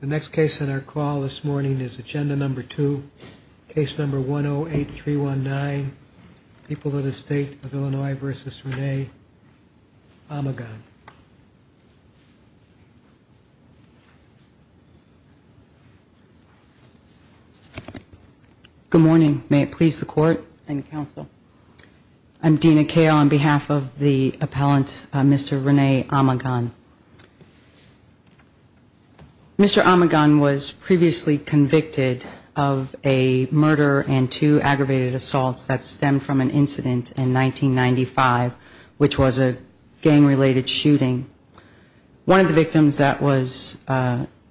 The next case in our call this morning is agenda number two, case number 108319, People of the State of Illinois v. Rene Amigon. Good morning, may it please the court and counsel. I'm Dena Kale on behalf of the appellant, Mr. Rene Amigon. Mr. Amigon was previously convicted of a murder and two aggravated assaults that stemmed from an incident in 1995, which was a gang-related shooting. One of the victims that was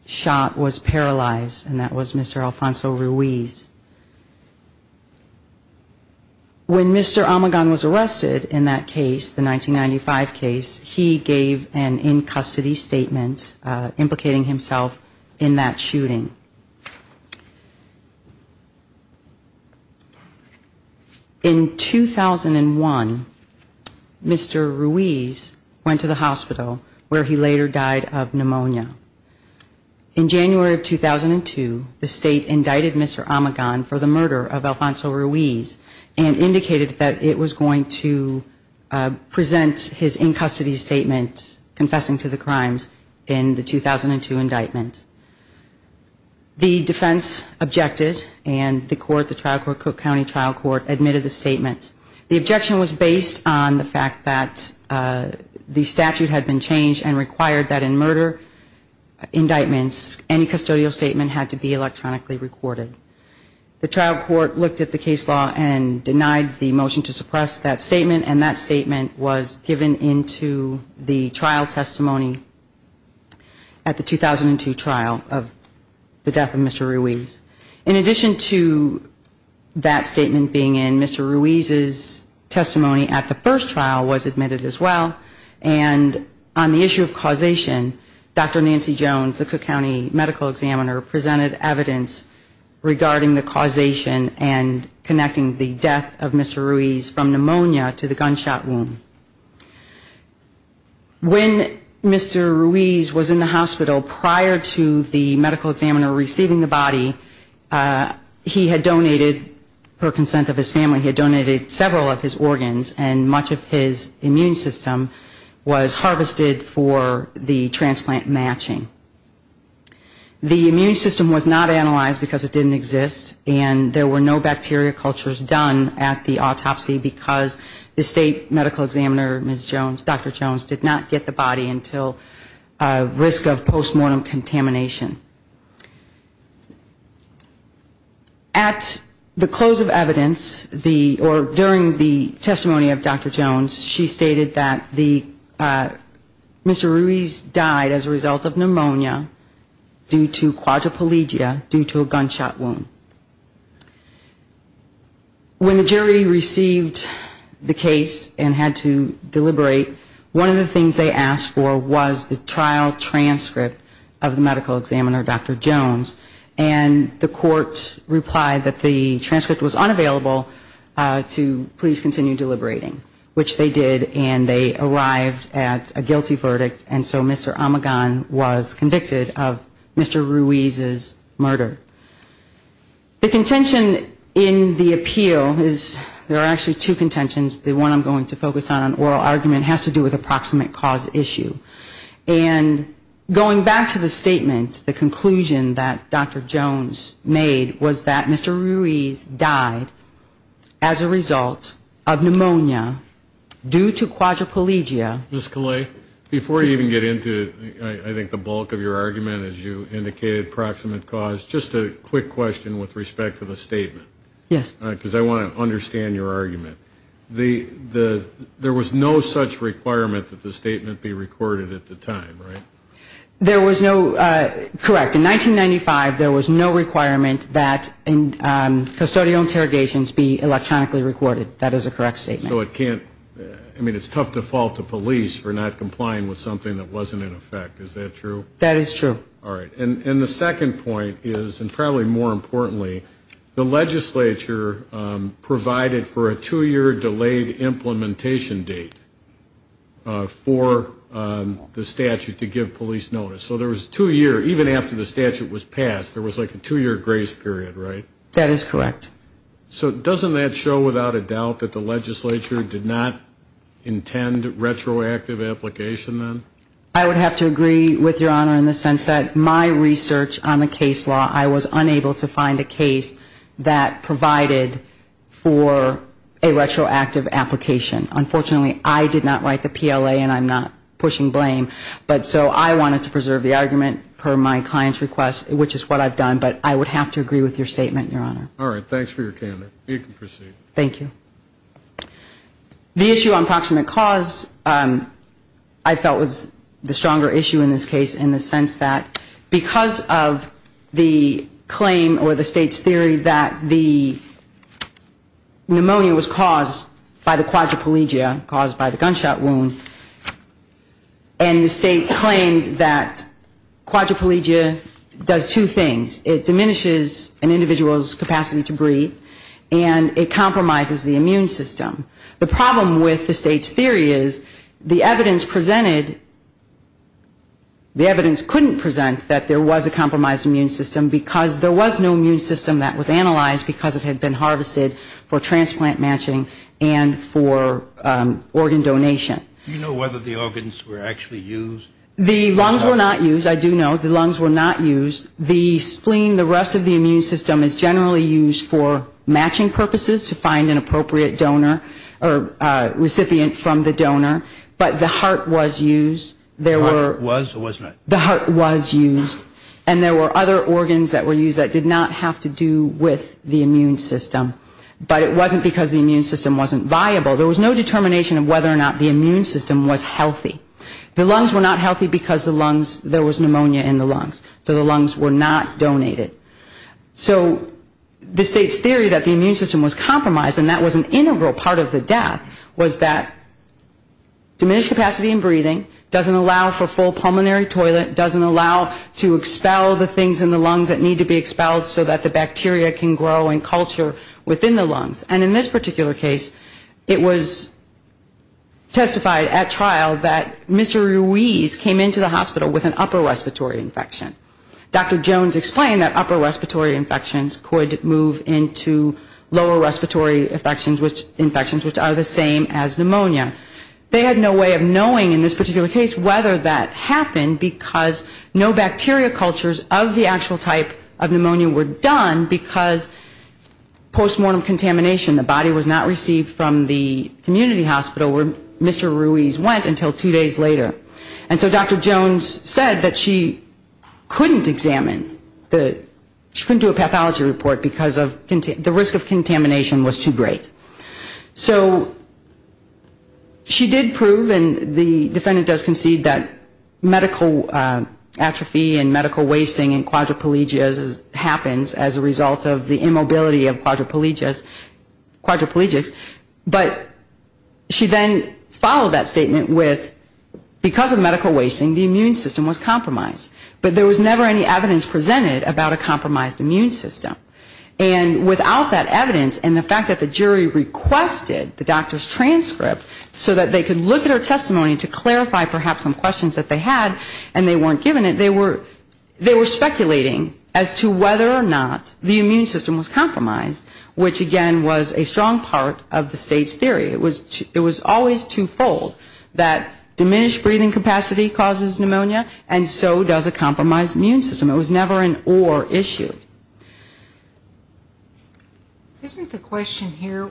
shot was paralyzed, and that was Mr. Alfonso Ruiz. When Mr. Amigon was arrested in that case, the 1995 case, he gave an in-custody statement implicating himself in that shooting. In 2001, Mr. Ruiz went to the hospital where he later died of pneumonia. In January of 2002, the state indicted Mr. Amigon, and Mr. Amigon was going to present his in-custody statement confessing to the crimes in the 2002 indictment. The defense objected, and the court, the trial court, Cook County Trial Court, admitted the statement. The objection was based on the fact that the statute had been changed and required that in murder indictments, any custodial statement had to be electronically recorded. The trial court looked at the case law and denied the motion to suppress that statement, and that statement was given into the trial testimony at the 2002 trial of the death of Mr. Ruiz. In addition to that statement being in, Mr. Ruiz's testimony at the first trial was admitted as well. And on the issue of causation, Dr. Nancy Jones, the Cook County medical examiner, presented evidence regarding the death of Mr. Ruiz from pneumonia to the gunshot wound. When Mr. Ruiz was in the hospital prior to the medical examiner receiving the body, he had donated, per consent of his family, he had donated several of his organs, and much of his immune system was harvested for the transplant matching. The immune system was not analyzed because it didn't exist, and there were no bacteria cultures done at the autopsy because the state medical examiner, Ms. Jones, Dr. Jones, did not get the body until risk of post-mortem contamination. At the close of evidence, or during the testimony of Dr. Jones, she stated that Mr. Ruiz died as a result of pneumonia. Due to quadriplegia, due to a gunshot wound. When the jury received the case and had to deliberate, one of the things they asked for was the trial transcript of the medical examiner, Dr. Jones, and the court replied that the transcript was unavailable to please continue deliberating, which they did, and they arrived at a conclusion that Dr. Jones was convicted of Mr. Ruiz's murder. The contention in the appeal is, there are actually two contentions, the one I'm going to focus on, an oral argument, has to do with a proximate cause issue, and going back to the statement, the conclusion that Dr. Jones made was that Mr. Ruiz died as a result of pneumonia due to quadriplegia. Ms. Kalei, before you even get into, I think, the bulk of your argument, as you indicated, proximate cause, just a quick question with respect to the statement. Yes. Because I want to understand your argument. There was no such requirement that the statement be recorded at the time, right? There was no, correct, in 1995, there was no requirement that custodial interrogations be electronically recorded, that is a correct statement. I mean, it's tough to fault the police for not complying with something that wasn't in effect, is that true? That is true. All right. And the second point is, and probably more importantly, the legislature provided for a two-year delayed implementation date for the statute to give police notice. So there was two years, even after the statute was passed, there was like a two-year grace period, right? That is correct. So doesn't that show without a doubt that the legislature did not intend retroactive application then? I would have to agree with Your Honor in the sense that my research on the case law, I was unable to find a case that provided for a retroactive application. Unfortunately, I did not write the PLA and I'm not pushing blame, but so I wanted to preserve the argument per my client's request, which is what I've done, but I would have to agree with your statement, Your Honor. All right. Thanks for your candor. You can proceed. Thank you. The issue on proximate cause I felt was the stronger issue in this case in the sense that because of the claim or the state's theory that the pneumonia was caused by the quadriplegia, caused by the gunshot wound, and the state claimed that quadriplegia does two things. It diminishes an individual's capacity to breathe and it compromises the immune system. The problem with the state's theory is the evidence presented, the evidence couldn't present that there was a compromised immune system because there was no immune system that was analyzed because it had been harvested for transplant matching and for organ donation. Do you know whether the organs were actually used? The lungs were not used. I do know the lungs were not used. The spleen, the rest of the immune system is generally used for matching purposes to find an appropriate donor or recipient from the donor, but the heart was used. The heart was or was not? The heart was used and there were other organs that were used that did not have to do with the immune system, but it wasn't because the immune system wasn't viable. There was no determination of whether or not the immune system was healthy. The lungs were not healthy because there was pneumonia in the lungs, so the lungs were not donated. So the state's theory that the immune system was compromised and that was an integral part of the death was that diminished capacity in breathing, doesn't allow for full pulmonary toilet, doesn't allow to expel the things in the lungs that need to be expelled so that the bacteria can grow and culture within the lungs and in this particular case it was testified at trial that Mr. Ruiz came into the hospital with an upper respiratory infection. Dr. Jones explained that upper respiratory infections could move into lower respiratory infections which are the same as pneumonia. They had no way of knowing in this particular case whether that happened because no bacteria cultures of the actual type of pneumonia were done because post-mortem contamination, the body was not received from the community hospital where Mr. Ruiz went until two days later. And so Dr. Jones said that she couldn't examine, she couldn't do a pathology report because the risk of contamination was too great. So she did prove and the defendant does concede that medical atrophy and medical wasting and quadriplegia happens as a result of the immobility of the body. The immobility of quadriplegics but she then followed that statement with because of medical wasting the immune system was compromised. But there was never any evidence presented about a compromised immune system and without that evidence and the fact that the jury requested the doctor's transcript so that they could look at her testimony to clarify perhaps some questions that they had and they weren't given it, they were speculating as to whether or not the immune system was compromised, which again was a strong part of the state's theory. It was always twofold, that diminished breathing capacity causes pneumonia and so does a compromised immune system. It was never an or issue. Isn't the question here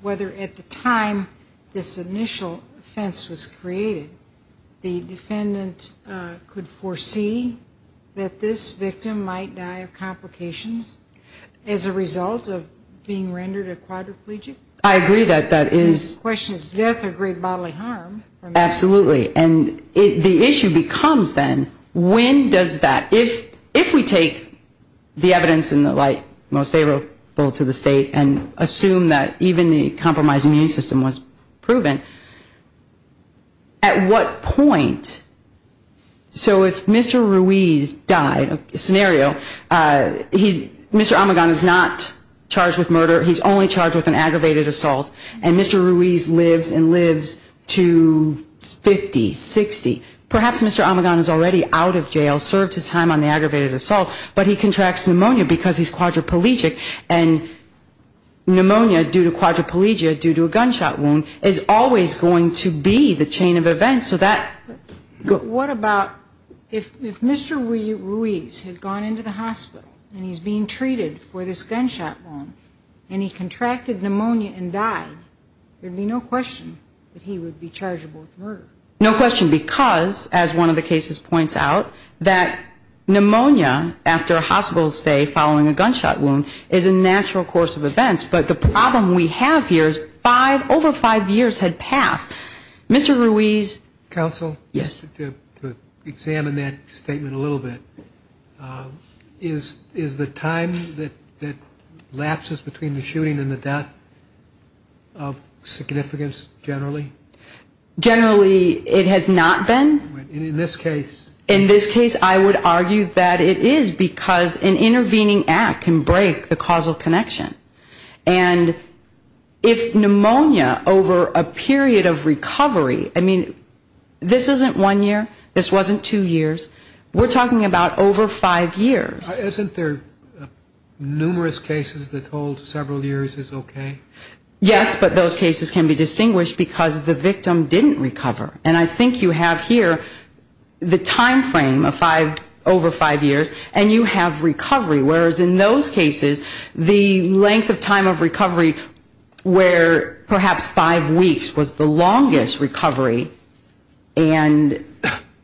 whether at the time this initial offense was created the defendant could foresee that this was not a quadriplegic and that this victim might die of complications as a result of being rendered a quadriplegic? I agree that that is. The question is death or great bodily harm. Absolutely and the issue becomes then when does that, if we take the evidence in the light most favorable to the state and assume that even the state is not in favor of a quadriplegic scenario, Mr. Omegon is not charged with murder, he's only charged with an aggravated assault and Mr. Ruiz lives and lives to 50, 60. Perhaps Mr. Omegon is already out of jail, served his time on the aggravated assault, but he contracts pneumonia because he's quadriplegic and pneumonia due to quadriplegia due to a gunshot wound is always going to be the chain of events. So that... What about if Mr. Ruiz had gone into the hospital and he's being treated for this gunshot wound and he contracted pneumonia and died, there would be no question that he would be chargeable with murder. No question because as one of the cases points out that pneumonia after a hospital stay following a gunshot wound is a natural course of events, but the problem we have here is five, over five years had passed. Mr. Ruiz... Counsel? Yes. To examine that statement a little bit, is the time that lapses between the shooting and the death of significance generally? Generally it has not been. In this case? In this case I would argue that it is because an intervening act can break the causal connection. And if pneumonia over a period of recovery, I mean, this isn't one year, this wasn't two years, we're talking about over five years. Isn't there numerous cases that hold several years is okay? Yes, but those cases can be distinguished because the victim didn't recover. And I think you have here the time frame of five, over five years and you have recovery, whereas in those cases the length of time of recovery where perhaps five weeks was the longest recovery and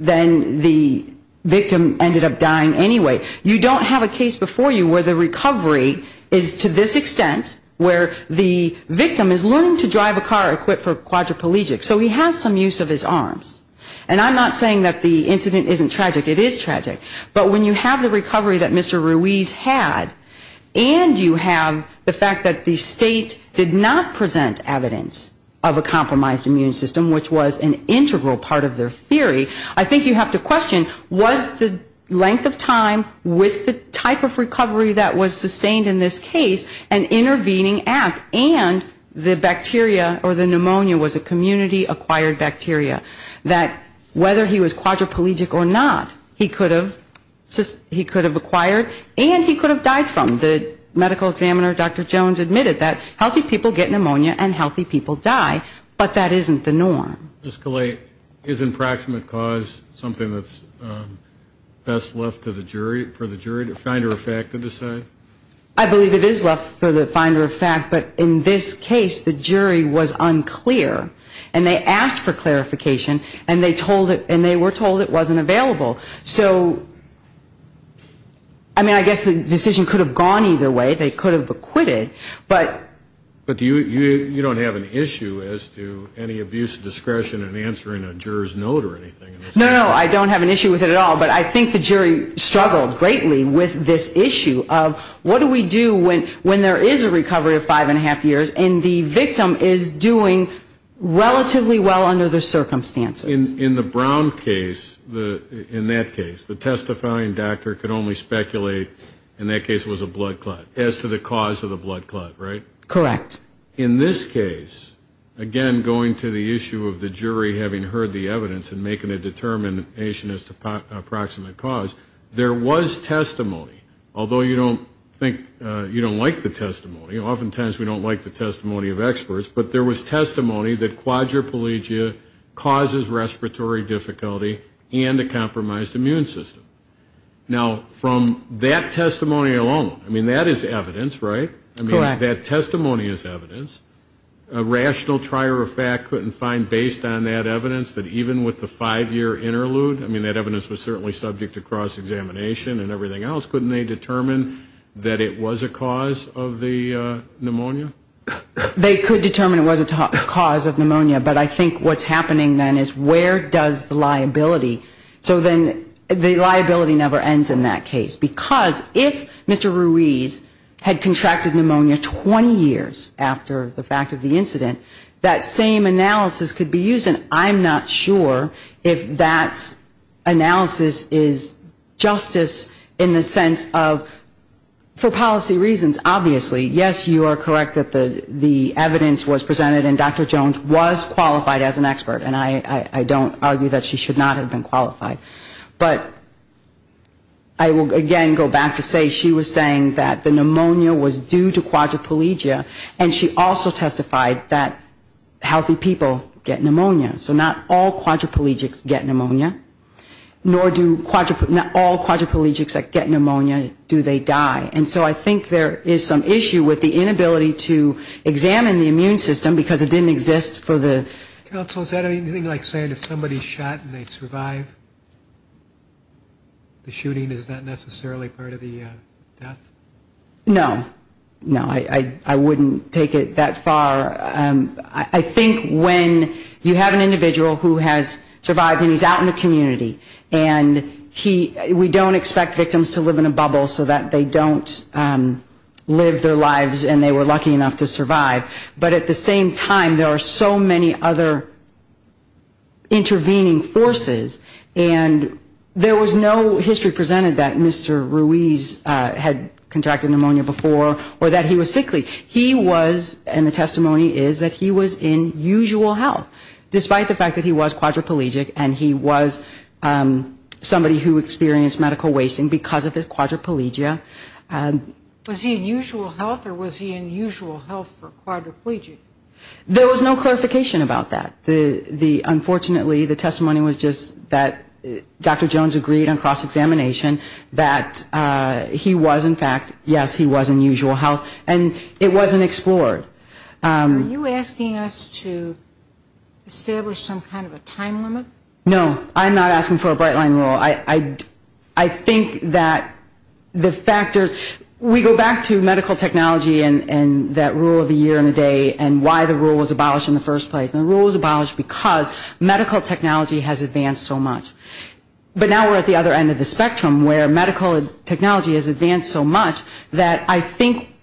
then the victim ended up dying anyway. You don't have a case before you where the recovery is to this extent, where the victim is learning to drive a car equipped for quadriplegic. So he has some use of his arms. And I'm not saying that the incident isn't tragic. It is tragic. But when you have the recovery that Mr. Ruiz had and you have the fact that the state did not present evidence of a compromised immune system, which was an integral part of their theory, I think you have to question was the length of time of recovery the longest? With the type of recovery that was sustained in this case, an intervening act, and the bacteria or the pneumonia was a community acquired bacteria. That whether he was quadriplegic or not, he could have acquired and he could have died from. The medical examiner, Dr. Jones, admitted that healthy people get pneumonia and healthy people die, but that isn't the norm. Ms. Calais, isn't proximate cause something that's best left to the jury, for the finder of fact to decide? I believe it is left for the finder of fact, but in this case, the jury was unclear and they asked for clarification and they were told it wasn't available. So I mean, I guess the decision could have gone either way. They could have acquitted, but you don't have an issue as to any abuse of discretion in answering a juror's note or anything? No, no, I don't have an issue with it at all, but I think the jury struggled greatly with this issue of what do we do when there is a recovery of five and a half years and the victim is doing relatively well under the circumstances? In the Brown case, in that case, the testifying doctor could only speculate in that case was a blood clot, as to the cause of the blood clot, right? Correct. In this case, again, going to the issue of the jury having heard the evidence and making a determination as to proximate cause, there was testimony, although you don't think you don't like the testimony. Oftentimes we don't like the testimony of experts, but there was testimony that quadriplegia causes respiratory difficulty and a compromised immune system. Now, from that testimonious evidence, a rational trier of fact couldn't find, based on that evidence, that even with the five-year interlude, I mean, that evidence was certainly subject to cross-examination and everything else, couldn't they determine that it was a cause of the pneumonia? They could determine it was a cause of pneumonia, but I think what's happening then is where does the liability, so then the liability never ends in that case. Because if Mr. Ruiz had contracted pneumonia 20 years ago, he would not have been charged with a quadriplegia, but 20 years after the fact of the incident, that same analysis could be used, and I'm not sure if that analysis is justice in the sense of, for policy reasons, obviously, yes, you are correct that the evidence was presented and Dr. Jones was qualified as an expert, and I don't argue that she should not have been qualified. But I will again go back to say she was saying that the pneumonia was due to quadriplegia, and she also testified that healthy people get pneumonia. So not all quadriplegics get pneumonia, nor do quadriplegics, not all quadriplegics that get pneumonia do they die. And so I think there is some issue with the inability to examine the immune system because it didn't exist for the last 20 years. So is that anything like saying if somebody is shot and they survive, the shooting is not necessarily part of the death? No. No, I wouldn't take it that far. I think when you have an individual who has survived and he's out in the community, and we don't expect victims to live in a bubble so that they don't live their lives and they were lucky enough to survive, but at the same time, there are so many other intervening forces, and there was no history presented that Mr. Ruiz had contracted pneumonia before or that he was sickly. He was, and the testimony is that he was in usual health, despite the fact that he was quadriplegic and he was somebody who experienced medical wasting because of his quadriplegia. Was he in usual health or was he in usual health for quadriplegic? There was no clarification about that. Unfortunately, the testimony was just that Dr. Jones agreed on cross-examination that he was in fact, yes, he was in usual health, and it wasn't explored. Are you asking us to establish some kind of a time limit? No, I'm not asking for a bright line rule. I think that the factors, we go back to medical technology and that rule of the year and the day and why the rule was abolished in the first place. The rule was abolished because medical technology has advanced so much. But now we're at the other end of the spectrum where medical technology has advanced so much that I think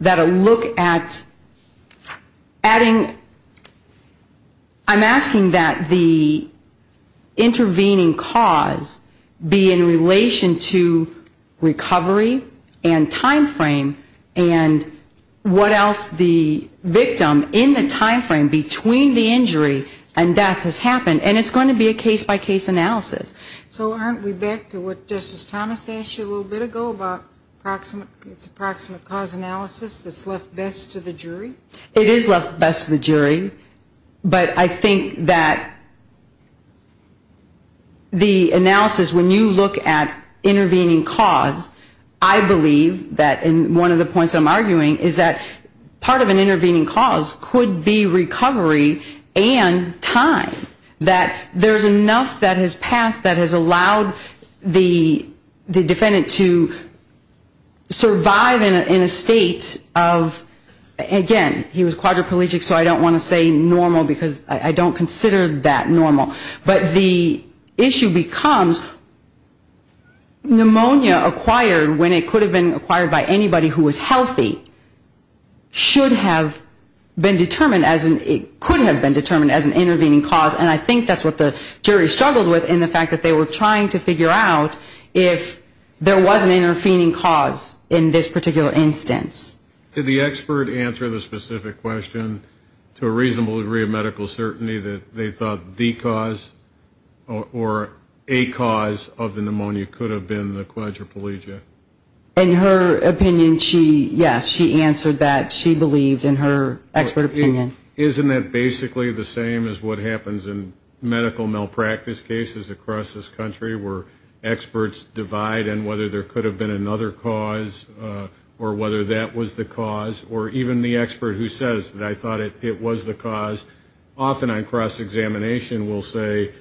that a look at adding, I'm asking that the, I'm asking that the rule of the year and the day be abolished. I'm asking that the intervening cause be in relation to recovery and time frame and what else the victim in the time frame between the injury and death has happened. And it's going to be a case-by-case analysis. So aren't we back to what Justice Thomas asked you a little bit ago about approximate cause analysis that's left best to the jury? It is left best to the jury, but I think that the analysis, when you look at intervening cause, I believe that one of the points I'm arguing is that part of an intervening cause could be recovery and time, that there's enough that has passed that has allowed the defendant to survive in a state of, again, recovery. He was quadriplegic, so I don't want to say normal, because I don't consider that normal. But the issue becomes pneumonia acquired when it could have been acquired by anybody who was healthy should have been determined as an, could have been determined as an intervening cause, and I think that's what the jury struggled with in the fact that they were trying to figure out if there was an intervening cause in this particular instance. Did the expert answer the specific question to a reasonable degree of medical certainty that they thought the cause or a cause of the pneumonia could have been the quadriplegia? In her opinion, yes, she answered that. She believed in her expert opinion. Isn't that basically the same as what happens in medical malpractice cases across this country, where experts divide on whether there could have been another cause or whether that was the cause, or even the expert who says that I thought it was the cause, often on cross-examination will say,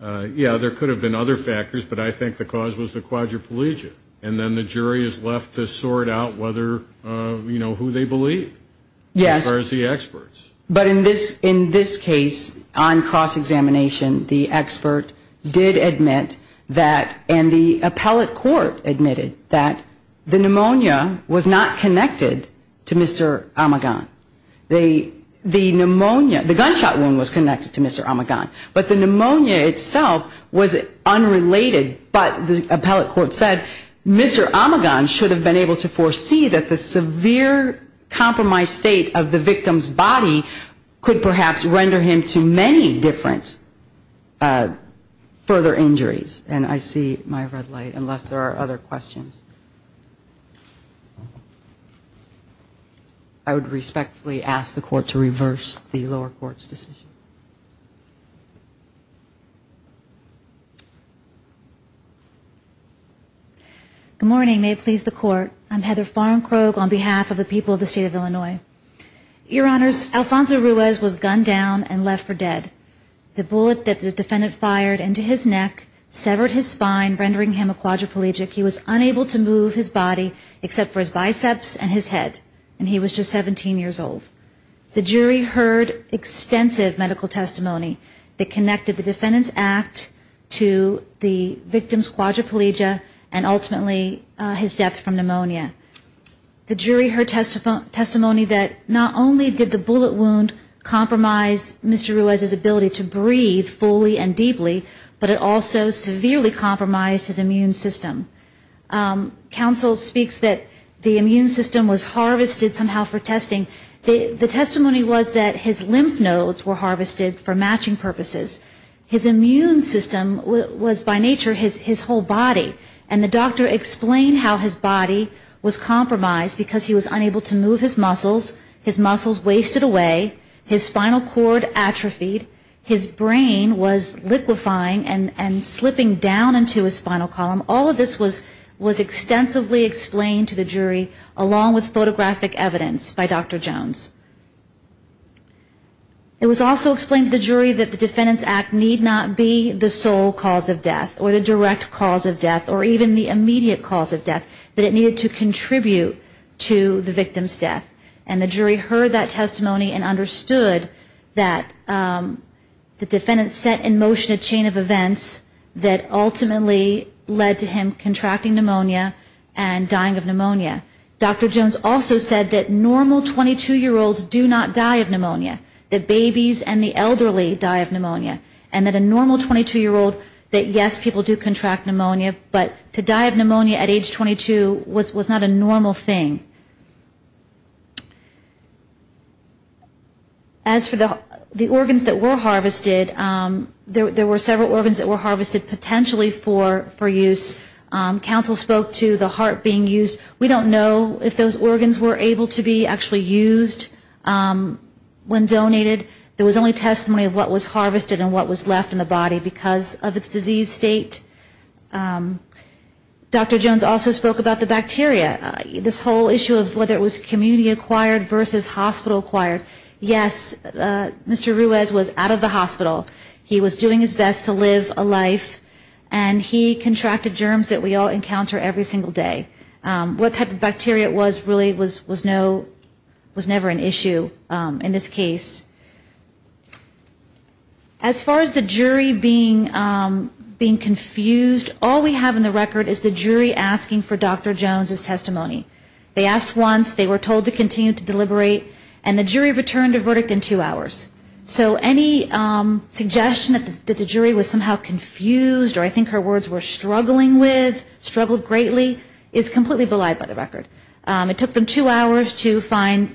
yeah, there could have been other factors, but I think the cause was the quadriplegia, and then the jury is left to sort out whether, you know, who they believe. As far as the experts. But in this case, on cross-examination, the expert did admit that, and the appellate court admitted that the pneumonia was not connected to Mr. Omegon. The pneumonia, the gunshot wound was connected to Mr. Omegon, but the pneumonia itself was unrelated, but the appellate court said Mr. Omegon should have been able to foresee that the severe compromised state of the victim's body could perhaps render him to many different further injuries. And I see my red light, unless there are other questions. I would respectfully ask the court to reverse the lower court's decision. Thank you. Good morning. May it please the court. I'm Heather Farnkrog on behalf of the people of the state of Illinois. Your Honors, Alfonso Ruiz was gunned down and left for dead. The bullet that the defendant fired into his neck severed his spine, rendering him a quadriplegic. He was unable to move his body except for his biceps and his head, and he was just 17 years old. The jury heard extensive medical testimony that connected the defendant's act to the victim's quadriplegia and ultimately his death from pneumonia. The jury heard testimony that not only did the bullet wound compromise Mr. Ruiz's ability to breathe fully and deeply, but it also severely compromised his immune system. Counsel speaks that the immune system was harvested somehow for testing. The testimony was that his lymph nodes were harvested for matching purposes. His immune system was by nature his whole body. And the doctor explained how his body was compromised because he was unable to move his muscles, his muscles wasted away, his spinal cord atrophied, his brain was liquefying and slipping down into his spinal column. All of this was extensively explained to the jury, along with photographic evidence by Dr. Jones. It was also explained to the jury that the defendant's act need not be the sole cause of death, or the direct cause of death, or even the immediate cause of death, that it needed to contribute to the victim's death. And the jury heard that testimony and understood that the defendant set in motion a chain of events that ultimately led to the victim's death. And that led to him contracting pneumonia and dying of pneumonia. Dr. Jones also said that normal 22-year-olds do not die of pneumonia, that babies and the elderly die of pneumonia, and that a normal 22-year-old, that yes, people do contract pneumonia, but to die of pneumonia at age 22 was not a normal thing. As for the organs that were harvested, there were several organs that were harvested potentially for use. Counsel spoke to the heart being used. We don't know if those organs were able to be actually used when donated. There was only testimony of what was harvested and what was left in the body because of its disease state. Dr. Jones also spoke about the bacteria. This whole issue of whether it was community acquired versus hospital acquired, yes, Mr. Ruiz was out of the hospital, he was doing his best to live a life, and he contracted germs that we all encounter every single day. What type of bacteria it was really was never an issue in this case. As far as the jury being confused, all we have in the record is the jury asking for Dr. Jones' testimony. They asked once, they were told to continue to deliberate, and the jury returned a verdict in two hours. So any suggestion that the jury was somehow confused or I think her words were struggling with, struggled greatly, is completely belied by the record. It took them two hours to find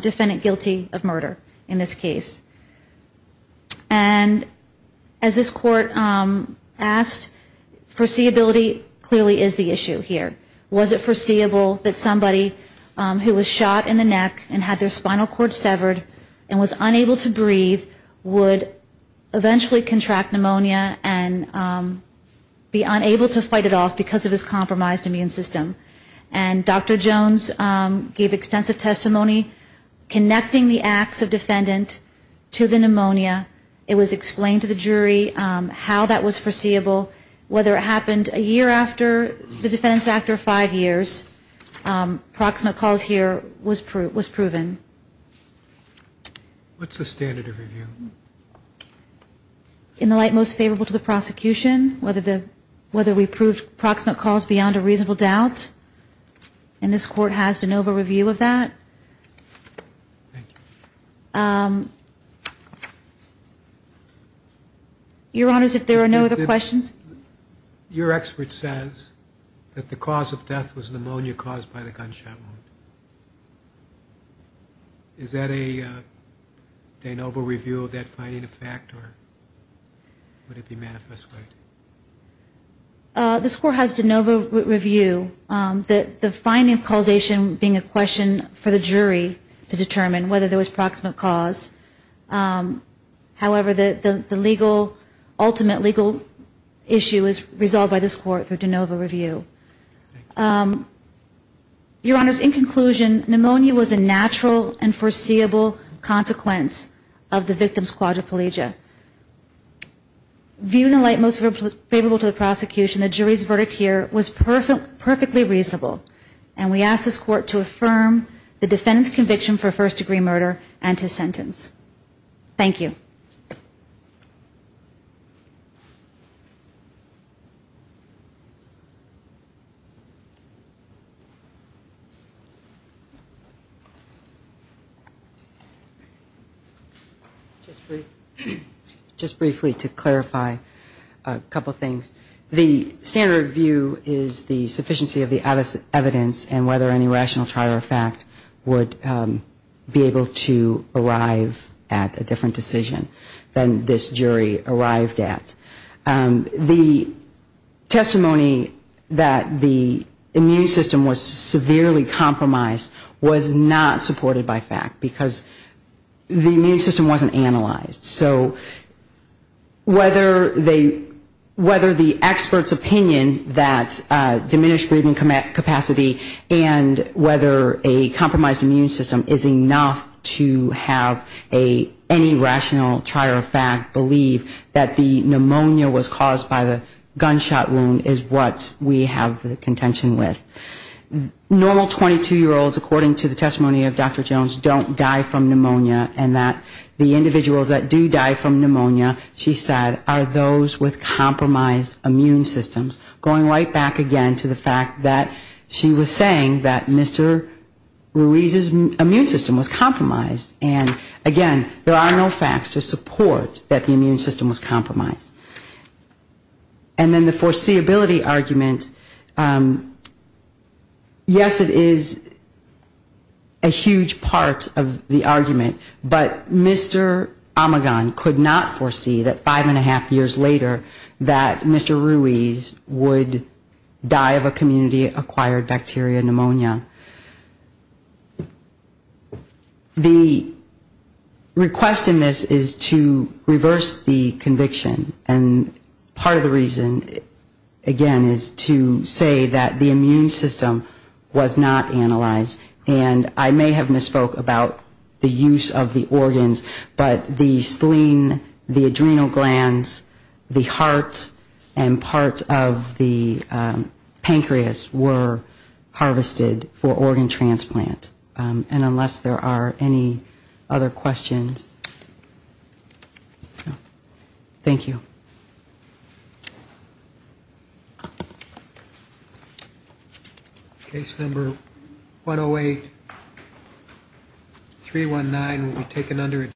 defendant guilty of murder in this case. And as this court asked, foreseeability clearly is the issue here. Was it foreseeable that somebody who was shot in the neck and had their spinal cord severed and was unable to breathe would eventually contract pneumonia and be unable to fight it off because of his compromised immune system? And Dr. Jones gave extensive testimony connecting the acts of defendant to the actions of the jury. It was explained to the jury how that was foreseeable, whether it happened a year after the defendant's act or five years. Proximate cause here was proven. In the light most favorable to the prosecution, whether we proved proximate cause beyond a reasonable doubt, and this court has de novo review of that. Your Honor, if there are no other questions. Your expert says that the cause of death was pneumonia caused by the gunshot wound. Is that a de novo review of that finding a fact, or would it be manifest right? This court has de novo review, the finding causation being a question for the jury to determine whether there was proximate cause. However, the legal, ultimate legal issue is resolved by this court through de novo review. Your Honor, in conclusion, pneumonia was a natural and foreseeable consequence of the victim's quadriplegia. Viewed in the light most favorable to the prosecution, the jury's verdict here was perfectly reasonable. And we ask this court to affirm the defendant's conviction for first degree murder and his sentence. Thank you. Just briefly to clarify a couple things. The standard view is the sufficiency of the evidence and whether any rational trial or fact would be able to arrive at a conclusion. And that's a different decision than this jury arrived at. The testimony that the immune system was severely compromised was not supported by fact, because the immune system wasn't analyzed. So whether the expert's opinion that diminished breathing capacity and whether a compromised immune system is enough to have a normal 22-year-old die from pneumonia is not supported by any rational trial or fact, believe that the pneumonia was caused by the gunshot wound is what we have the contention with. Normal 22-year-olds, according to the testimony of Dr. Jones, don't die from pneumonia, and that the individuals that do die from pneumonia, she said, are those with compromised immune systems. Going right back again to the fact that she was saying that Mr. Ruiz's immune system was compromised. And again, there are no facts to support that the immune system was compromised. And then the foreseeability argument, yes, it is a huge part of the argument, but Mr. Omegon could not foresee that five and a half years later that Mr. Ruiz would die of a community-acquired bacteria pneumonia. The request in this is to reverse the conviction, and part of the reason, again, is to say that the immune system was not analyzed, and I may have misspoke about the use of the organs, but the spleen, the adrenal glands, the heart, and part of the organ transplant, and unless there are any other questions, thank you. Case number 108-319 will be taken under adjustment.